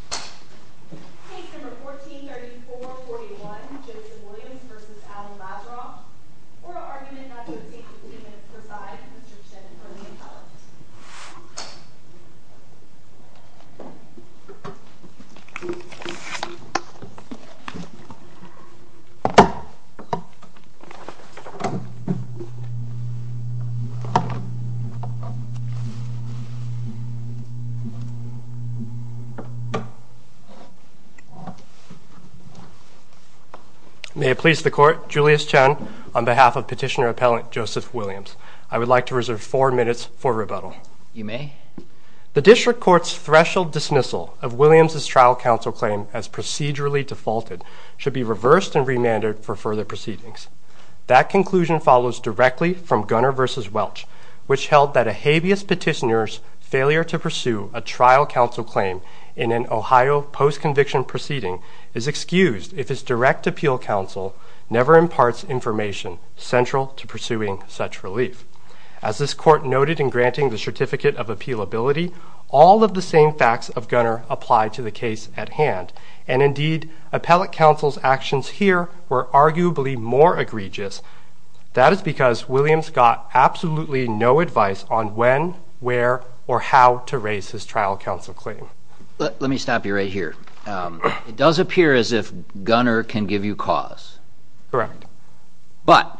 Case No. 14-3441 Joseph Williams v. Alan Lazaroff Oral Argument No. 16-15 Preside May it please the Court, Julius Chen on behalf of Petitioner-Appellant Joseph Williams, I would like to reserve four minutes for rebuttal. You may. The District Court's threshold dismissal of Williams' trial counsel claim as procedurally defaulted should be reversed and remanded for further proceedings. That conclusion follows directly from Gunner v. Welch, which held that a habeas petitioner's failure to pursue a trial counsel claim in an Ohio post-conviction proceeding is excused if his direct appeal counsel never imparts information central to pursuing such relief. As this Court noted in granting the Certificate of Appealability, all of the same facts of Gunner apply to the case at hand, and indeed, appellate counsel's actions here were arguably more egregious. That is because Williams got absolutely no advice on when, where, or how to raise his trial counsel claim. Let me stop you right here. It does appear as if Gunner can give you cause. Correct. But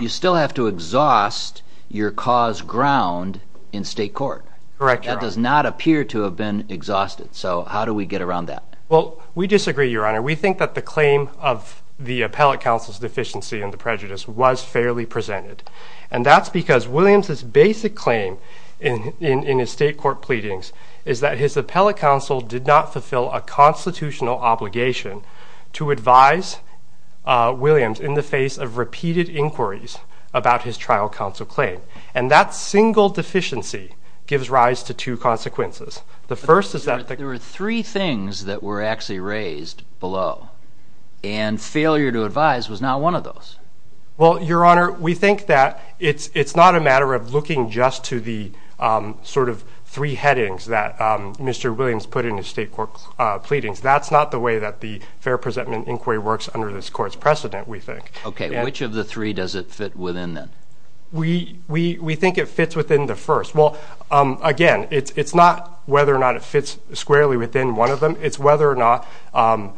you still have to exhaust your cause ground in state court. Correct, Your Honor. That does not appear to have been exhausted. So how do we get around that? Well, we disagree, Your Honor. We think that the claim of the appellate counsel's deficiency in the prejudice was fairly presented. And that's because Williams' basic claim in his state court pleadings is that his appellate counsel did not fulfill a constitutional obligation to advise Williams in the face of repeated inquiries about his trial counsel claim. And that single deficiency gives rise to two consequences. The first is that the – But there were three things that were actually raised below, and failure to advise was not one of those. Well, Your Honor, we think that it's not a matter of looking just to the sort of three headings that Mr. Williams put in his state court pleadings. That's not the way that the fair presentment inquiry works under this Court's precedent, we think. Okay. Which of the three does it fit within, then? We think it fits within the first. Well, again, it's not whether or not it fits squarely within one of them. It's whether or not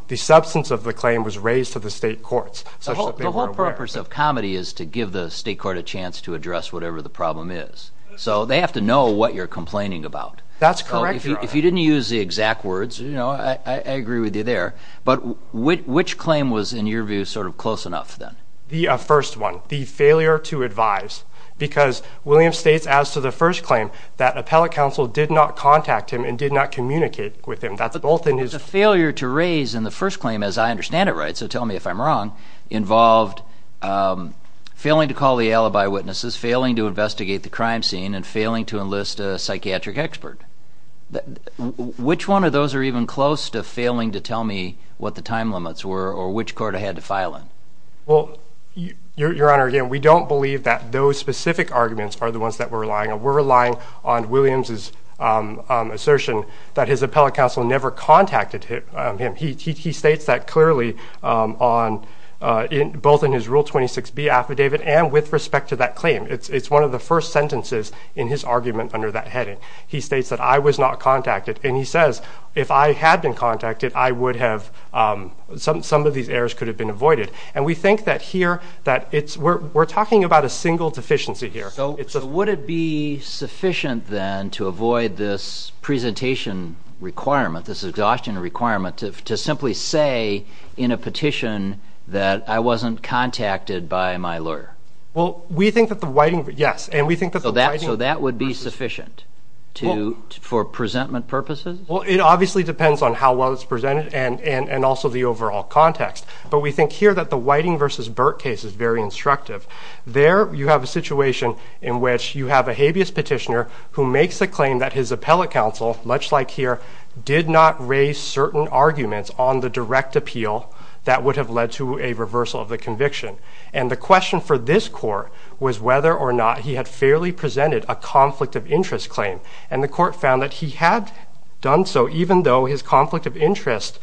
the substance of the claim was raised to the state courts such that they were aware. The whole purpose of comedy is to give the state court a chance to address whatever the problem is. So they have to know what you're complaining about. That's correct, Your Honor. If you didn't use the exact words, you know, I agree with you there. But which claim was, in your view, sort of close enough, then? The first one. The failure to advise. Because Williams states, as to the first claim, that appellate counsel did not contact him and did not communicate with him. That's both in his... But the failure to raise in the first claim, as I understand it, right, so tell me if I'm wrong, involved failing to call the alibi witnesses, failing to investigate the crime scene, and failing to enlist a psychiatric expert. Which one of those are even close to failing to tell me what the time limits were or which court I had to file in? Well, Your Honor, again, we don't believe that those specific arguments are the ones that we're relying on. We're relying on Williams' assertion that his appellate counsel never contacted him. He states that clearly both in his Rule 26B affidavit and with respect to that claim. It's one of the first sentences in his argument under that heading. He states that I was not contacted. And he says if I had been contacted, I would have, some of these errors could have been avoided. And we think that here that it's, we're talking about a single deficiency here. So would it be sufficient then to avoid this presentation requirement, this exhaustion requirement, to simply say in a petition that I wasn't contacted by my lawyer? Well, we think that the whiting, yes, and we think that the whiting... Well, it obviously depends on how well it's presented and also the overall context. But we think here that the whiting versus Burke case is very instructive. There you have a situation in which you have a habeas petitioner who makes a claim that his appellate counsel, much like here, did not raise certain arguments on the direct appeal that would have led to a reversal of the conviction. And the question for this court was whether or not he had fairly presented a conflict of interest claim. And the court found that he had done so, even though his conflict of interest,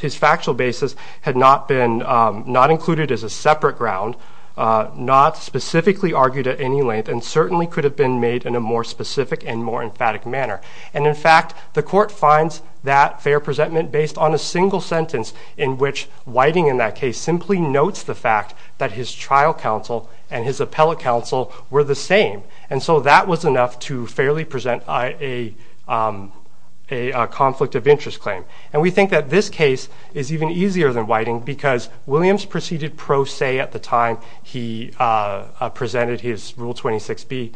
his factual basis, had not been not included as a separate ground, not specifically argued at any length, and certainly could have been made in a more specific and more emphatic manner. And, in fact, the court finds that fair presentment based on a single sentence in which whiting in that case simply notes the fact that his trial counsel and his appellate counsel were the same. And so that was enough to fairly present a conflict of interest claim. And we think that this case is even easier than whiting because Williams proceeded pro se at the time he presented his Rule 26b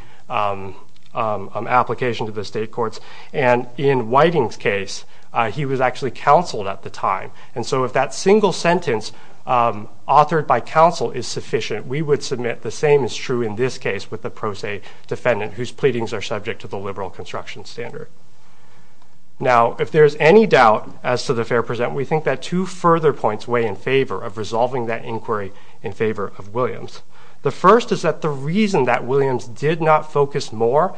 application to the state courts. And in whiting's case, he was actually counseled at the time. And so if that single sentence authored by counsel is sufficient, we would submit the same is true in this case with the pro se defendant, whose pleadings are subject to the liberal construction standard. Now, if there is any doubt as to the fair presentment, we think that two further points weigh in favor of resolving that inquiry in favor of Williams. The first is that the reason that Williams did not focus more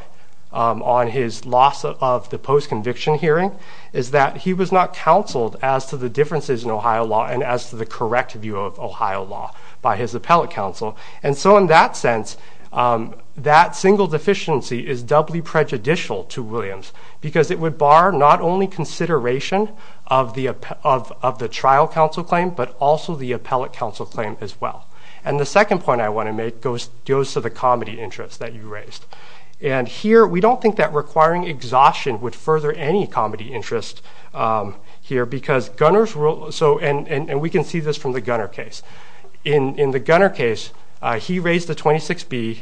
on his loss of the post-conviction hearing is that he was not counseled as to the differences in Ohio law and as to the correct view of Ohio law by his appellate counsel. And so in that sense, that single deficiency is doubly prejudicial to Williams because it would bar not only consideration of the trial counsel claim, but also the appellate counsel claim as well. And the second point I want to make goes to the comedy interest that you raised. And here we don't think that requiring exhaustion would further any comedy interest here because Gunner's rule, and we can see this from the Gunner case. In the Gunner case, he raised the 26B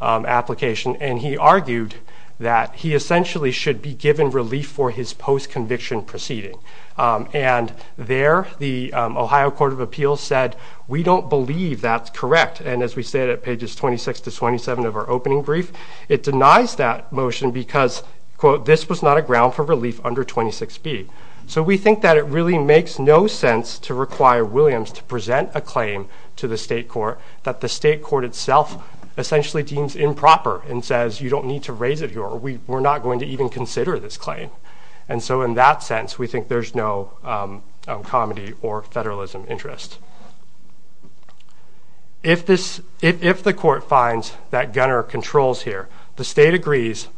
application, and he argued that he essentially should be given relief for his post-conviction proceeding. And there the Ohio Court of Appeals said, we don't believe that's correct. And as we said at pages 26 to 27 of our opening brief, it denies that motion because, quote, this was not a ground for relief under 26B. So we think that it really makes no sense to require Williams to present a claim to the state court that the state court itself essentially deems improper and says you don't need to raise it here or we're not going to even consider this claim. And so in that sense, we think there's no comedy or federalism interest. If the court finds that Gunner controls here, the state agrees,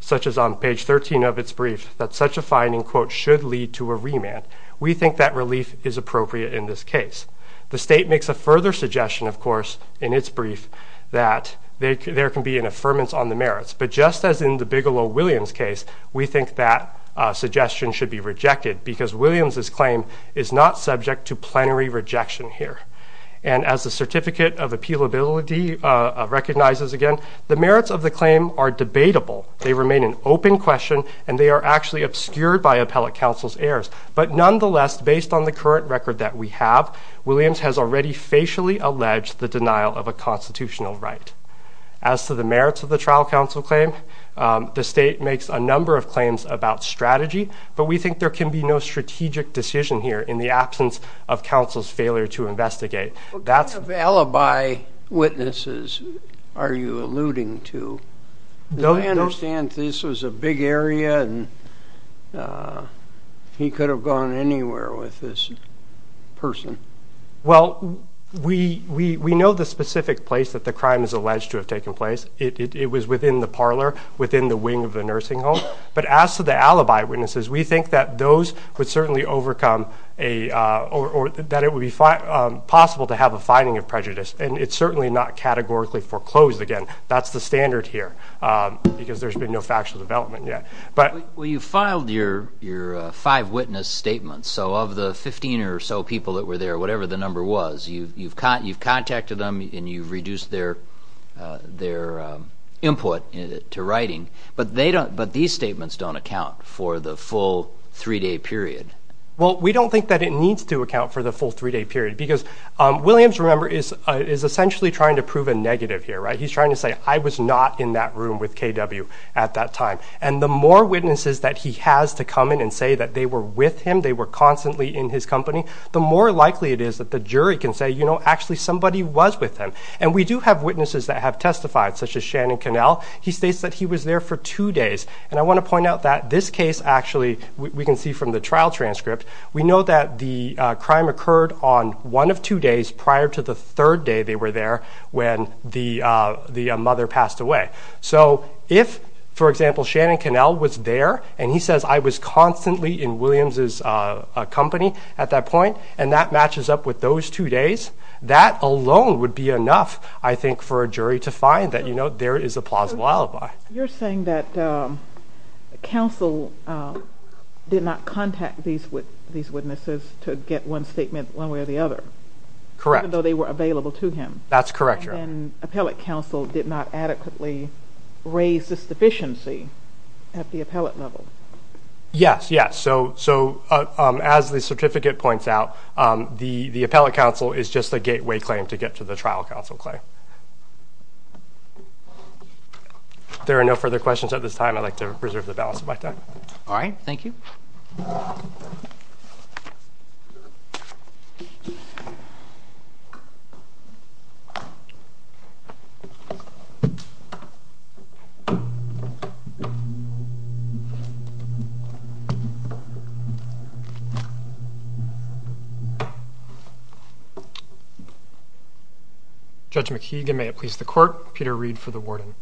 such as on page 13 of its brief, that such a finding, quote, should lead to a remand, we think that relief is appropriate in this case. The state makes a further suggestion, of course, in its brief, that there can be an affirmance on the merits. But just as in the Bigelow-Williams case, we think that suggestion should be rejected because Williams's claim is not subject to plenary rejection here. And as the Certificate of Appealability recognizes again, the merits of the claim are debatable, they remain an open question, and they are actually obscured by appellate counsel's errors. But nonetheless, based on the current record that we have, Williams has already facially alleged the denial of a constitutional right. As to the merits of the trial counsel claim, the state makes a number of claims about strategy, but we think there can be no strategic decision here in the absence of counsel's failure to investigate. What kind of alibi witnesses are you alluding to? I understand this was a big area and he could have gone anywhere with this person. Well, we know the specific place that the crime is alleged to have taken place. It was within the parlor, within the wing of the nursing home. But as to the alibi witnesses, we think that those would certainly overcome a or that it would be possible to have a finding of prejudice. And it's certainly not categorically foreclosed. Again, that's the standard here because there's been no factual development yet. Well, you filed your five witness statements. So of the 15 or so people that were there, whatever the number was, you've contacted them and you've reduced their input to writing. But these statements don't account for the full three-day period. Well, we don't think that it needs to account for the full three-day period, because Williams, remember, is essentially trying to prove a negative here. He's trying to say, I was not in that room with K.W. at that time. And the more witnesses that he has to come in and say that they were with him, they were constantly in his company, the more likely it is that the jury can say, you know, actually somebody was with him. And we do have witnesses that have testified, such as Shannon Connell. He states that he was there for two days. And I want to point out that this case, actually, we can see from the trial transcript, we know that the crime occurred on one of two days prior to the third day they were there when the mother passed away. So if, for example, Shannon Connell was there and he says, I was constantly in Williams' company at that point, and that matches up with those two days, that alone would be enough, I think, for a jury to find that, you know, there is a plausible alibi. You're saying that counsel did not contact these witnesses to get one statement one way or the other. Correct. Even though they were available to him. That's correct, Your Honor. And appellate counsel did not adequately raise this deficiency at the appellate level. Yes, yes. So as the certificate points out, the appellate counsel is just a gateway claim to get to the trial counsel claim. If there are no further questions at this time, I'd like to preserve the balance of my time. All right. Thank you. Judge McKeegan, may it please the court. Peter Reed for the warden.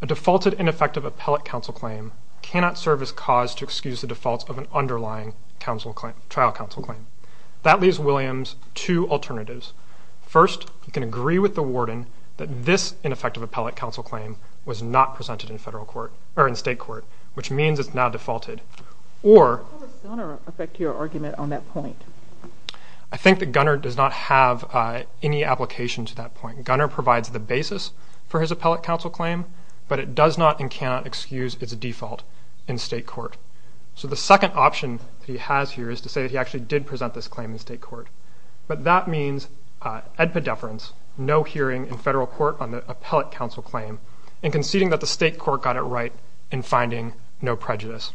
A defaulted ineffective appellate counsel claim cannot serve as cause to excuse the defaults of an underlying trial counsel claim. That leaves Williams two alternatives. First, he can agree with the warden that this ineffective appellate counsel claim was not presented in federal court, or in state court, which means it's now defaulted. How does Gunner affect your argument on that point? I think that Gunner does not have any application to that point. Gunner provides the basis for his appellate counsel claim, but it does not and cannot excuse its default in state court. So the second option that he has here is to say that he actually did present this claim in state court. But that means edpedeference, no hearing in federal court on the appellate counsel claim, and conceding that the state court got it right in finding no prejudice.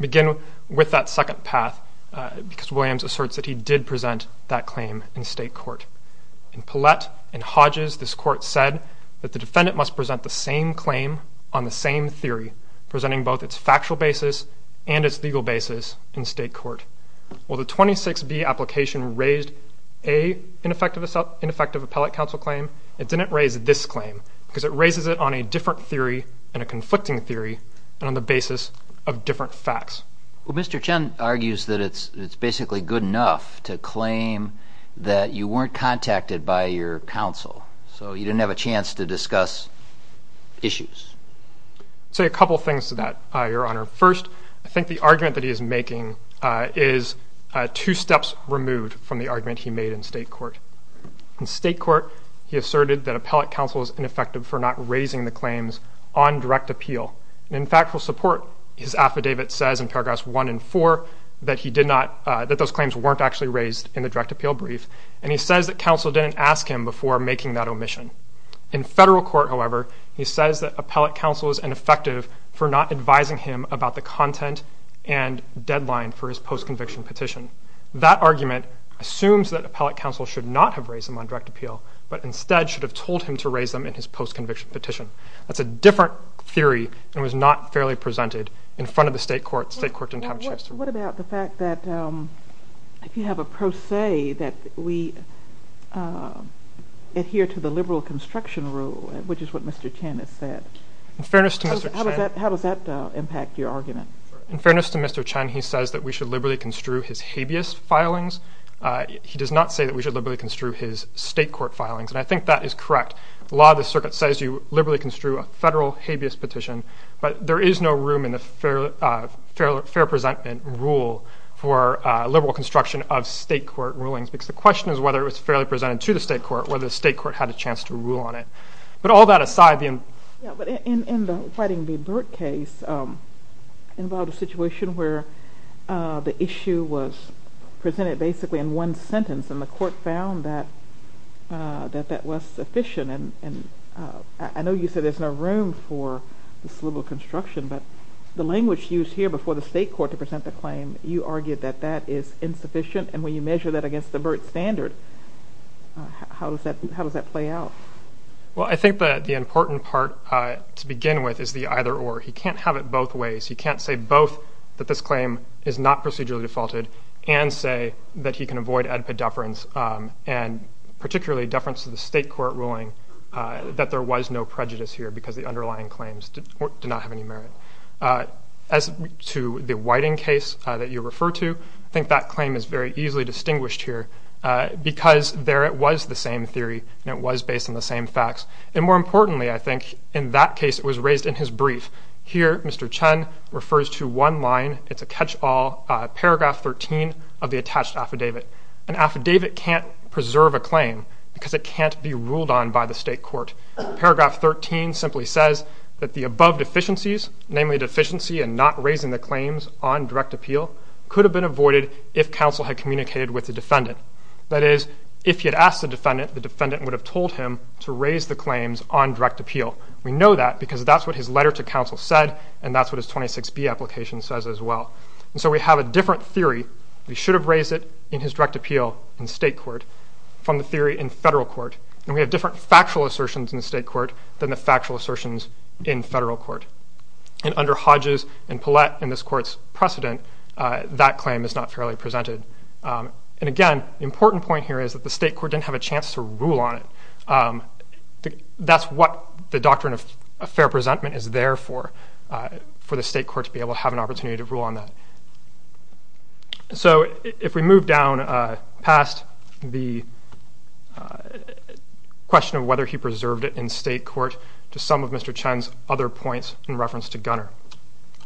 Begin with that second path, because Williams asserts that he did present that claim in state court. In Pellet and Hodges, this court said that the defendant must present the same claim on the same theory, presenting both its factual basis and its legal basis in state court. Well, the 26B application raised a ineffective appellate counsel claim. It didn't raise this claim, because it raises it on a different theory and a conflicting theory, and on the basis of different facts. Well, Mr. Chen argues that it's basically good enough to claim that you weren't contacted by your counsel, so you didn't have a chance to discuss issues. I'll say a couple of things to that, Your Honor. First, I think the argument that he is making is two steps removed from the argument he made in state court. In state court, he asserted that appellate counsel is ineffective for not raising the claims on direct appeal. And in factual support, his affidavit says in paragraphs 1 and 4 that he did not, that those claims weren't actually raised in the direct appeal brief, and he says that counsel didn't ask him before making that omission. In federal court, however, he says that appellate counsel is ineffective for not advising him about the content and deadline for his post-conviction petition. That argument assumes that appellate counsel should not have raised them on direct appeal, but instead should have told him to raise them in his post-conviction petition. That's a different theory and was not fairly presented in front of the state court. State court didn't have a chance to review it. What about the fact that if you have a pro se that we adhere to the liberal construction rule, which is what Mr. Chen has said, how does that impact your argument? In fairness to Mr. Chen, he says that we should liberally construe his habeas filings. He does not say that we should liberally construe his state court filings, and I think that is correct. The law of the circuit says you liberally construe a federal habeas petition, but there is no room in the fair presentment rule for liberal construction of state court rulings because the question is whether it was fairly presented to the state court, whether the state court had a chance to rule on it. In the Whiting v. Burt case involved a situation where the issue was presented basically in one sentence and the court found that that was sufficient. I know you said there is no room for this liberal construction, but the language used here before the state court to present the claim, you argued that that is insufficient, and when you measure that against the Burt standard, how does that play out? Well, I think that the important part to begin with is the either or. He can't have it both ways. He can't say both that this claim is not procedurally defaulted and say that he can avoid AEDPA deference, and particularly deference to the state court ruling that there was no prejudice here because the underlying claims did not have any merit. As to the Whiting case that you refer to, I think that claim is very easily distinguished here because there it was the same theory and it was based on the same facts. And more importantly, I think, in that case it was raised in his brief. Here Mr. Chen refers to one line. It's a catch-all, paragraph 13 of the attached affidavit. An affidavit can't preserve a claim because it can't be ruled on by the state court. Paragraph 13 simply says that the above deficiencies, namely deficiency in not raising the claims on direct appeal, could have been avoided if counsel had communicated with the defendant. That is, if he had asked the defendant, the defendant would have told him to raise the claims on direct appeal. We know that because that's what his letter to counsel said and that's what his 26B application says as well. And so we have a different theory. We should have raised it in his direct appeal in state court from the theory in federal court. And we have different factual assertions in the state court than the factual assertions in federal court. And under Hodges and Paulette in this court's precedent, that claim is not fairly presented. And again, the important point here is that the state court didn't have a chance to rule on it. That's what the doctrine of fair presentment is there for, for the state court to be able to have an opportunity to rule on that. So if we move down past the question of whether he preserved it in state court to some of Mr. Chen's other points in reference to Gunner.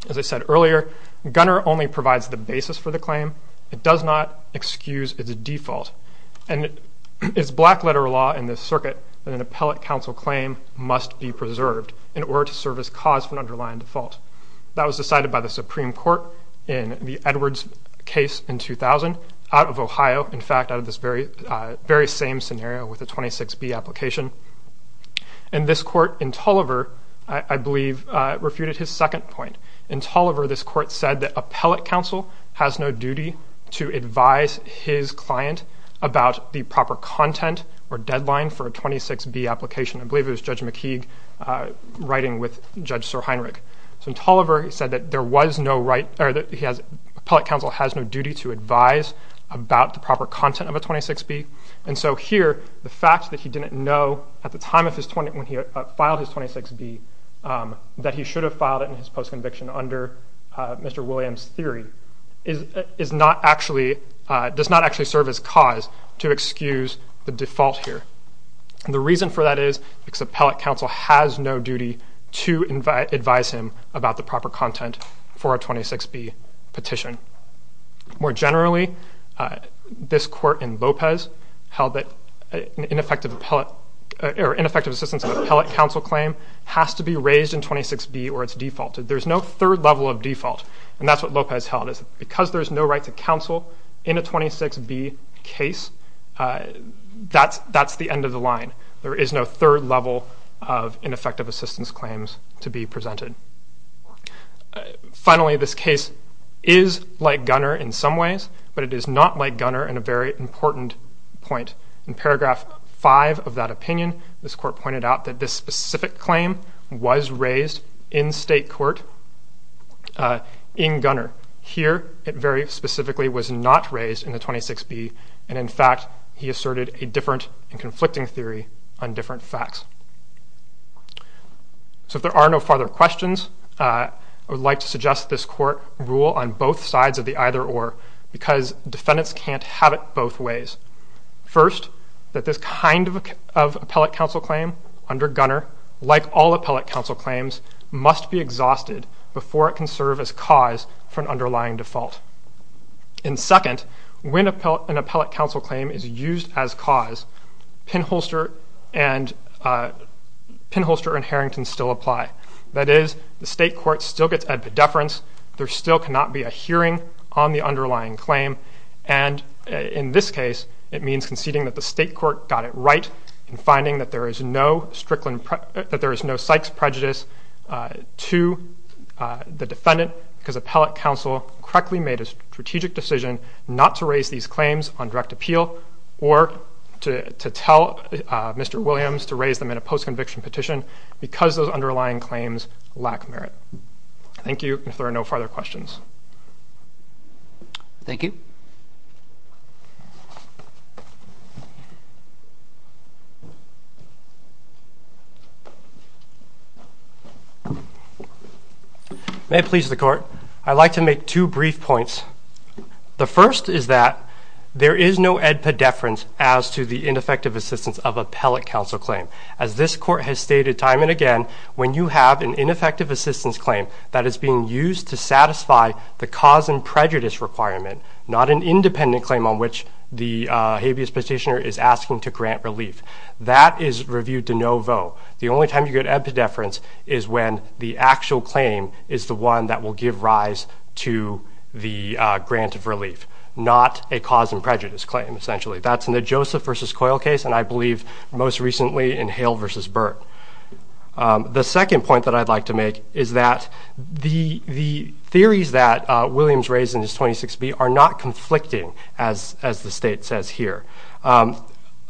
As I said earlier, Gunner only provides the basis for the claim. It does not excuse its default. And it's black letter law in this circuit that an appellate counsel claim must be preserved in order to serve as cause for an underlying default. That was decided by the Supreme Court in the Edwards case in 2000, out of Ohio, in fact, out of this very same scenario with the 26B application. And this court in Tulliver, I believe, refuted his second point. In Tulliver, this court said that appellate counsel has no duty to advise his client about the proper content or deadline for a 26B application. I believe it was Judge McKeague writing with Judge Sir Heinrich. So in Tulliver, he said that there was no right, or that he has, appellate counsel has no duty to advise about the proper content of a 26B. And so here, the fact that he didn't know at the time when he filed his 26B that he should have filed it in his post-conviction under Mr. Williams' theory does not actually serve as cause to excuse the default here. The reason for that is because appellate counsel has no duty to advise him about the proper content for a 26B petition. More generally, this court in Lopez held that ineffective appellate or ineffective assistance of appellate counsel claim has to be raised in 26B or it's defaulted. There's no third level of default, and that's what Lopez held, is because there's no right to counsel in a 26B case, that's the end of the line. There is no third level of ineffective assistance claims to be presented. Finally, this case is like Gunner in some ways, but it is not like Gunner in a very important point. In paragraph 5 of that opinion, this court pointed out that this specific claim was raised in state court in Gunner. Here, it very specifically was not raised in the 26B, and in fact, he asserted a different and conflicting theory on different facts. So if there are no further questions, I would like to suggest this court rule on both sides of the either-or because defendants can't have it both ways. First, that this kind of appellate counsel claim under Gunner, like all appellate counsel claims, must be exhausted before it can serve as cause for an underlying default. And second, when an appellate counsel claim is used as cause, pinholster and Harrington still apply. That is, the state court still gets epidefference. There still cannot be a hearing on the underlying claim, and in this case, it means conceding that the state court got it right in finding that there is no Sykes prejudice to the defendant because appellate counsel correctly made a strategic decision not to raise these claims on direct appeal or to tell Mr. Williams to raise them in a post-conviction petition because those underlying claims lack merit. Thank you, and if there are no further questions. Thank you. May it please the court, I'd like to make two brief points. The first is that there is no epidefference as to the ineffective assistance of appellate counsel claim. As this court has stated time and again, when you have an ineffective assistance claim that is being used to satisfy the cause and prejudice requirement, not an independent claim on which the habeas petitioner is asking to grant relief. That is reviewed de novo. The only time you get epidefference is when the actual claim is the one that will give rise to the grant of relief, not a cause and prejudice claim, essentially. That's in the Joseph v. Coyle case, and I believe most recently in Hale v. Burt. The second point that I'd like to make is that the theories that Williams raised in his 26B are not conflicting, as the state says here.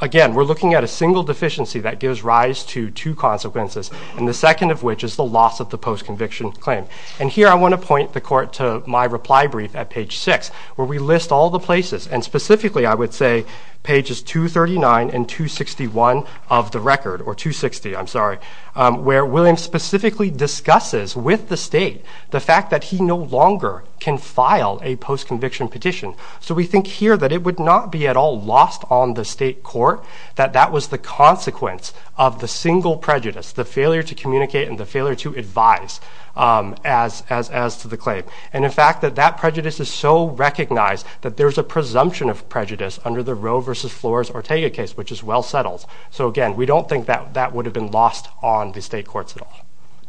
Again, we're looking at a single deficiency that gives rise to two consequences, and the second of which is the loss of the post-conviction claim. And here I want to point the court to my reply brief at page 6, where we list all the places, and specifically I would say pages 239 and 261 of the record, or 260, I'm sorry, where Williams specifically discusses with the state the fact that he no longer can file a post-conviction petition. So we think here that it would not be at all lost on the state court, that that was the consequence of the single prejudice, the failure to communicate and the failure to advise as to the claim. And in fact, that that prejudice is so recognized that there's a presumption of prejudice under the Roe v. Flores-Ortega case, which is well settled. So again, we don't think that that would have been lost on the state courts at all.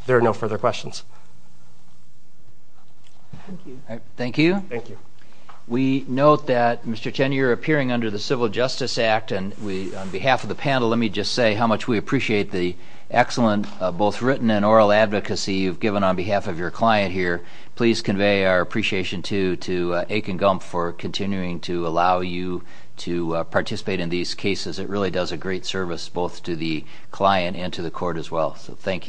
There are no further questions. Thank you. We note that, Mr. Cheney, you're appearing under the Civil Justice Act, and on behalf of the panel, let me just say how much we appreciate the excellent both written and oral advocacy you've given on behalf of your client here. Please convey our appreciation to Akin Gump for continuing to allow you to participate in these cases. It really does a great service both to the client and to the court as well. So thank you.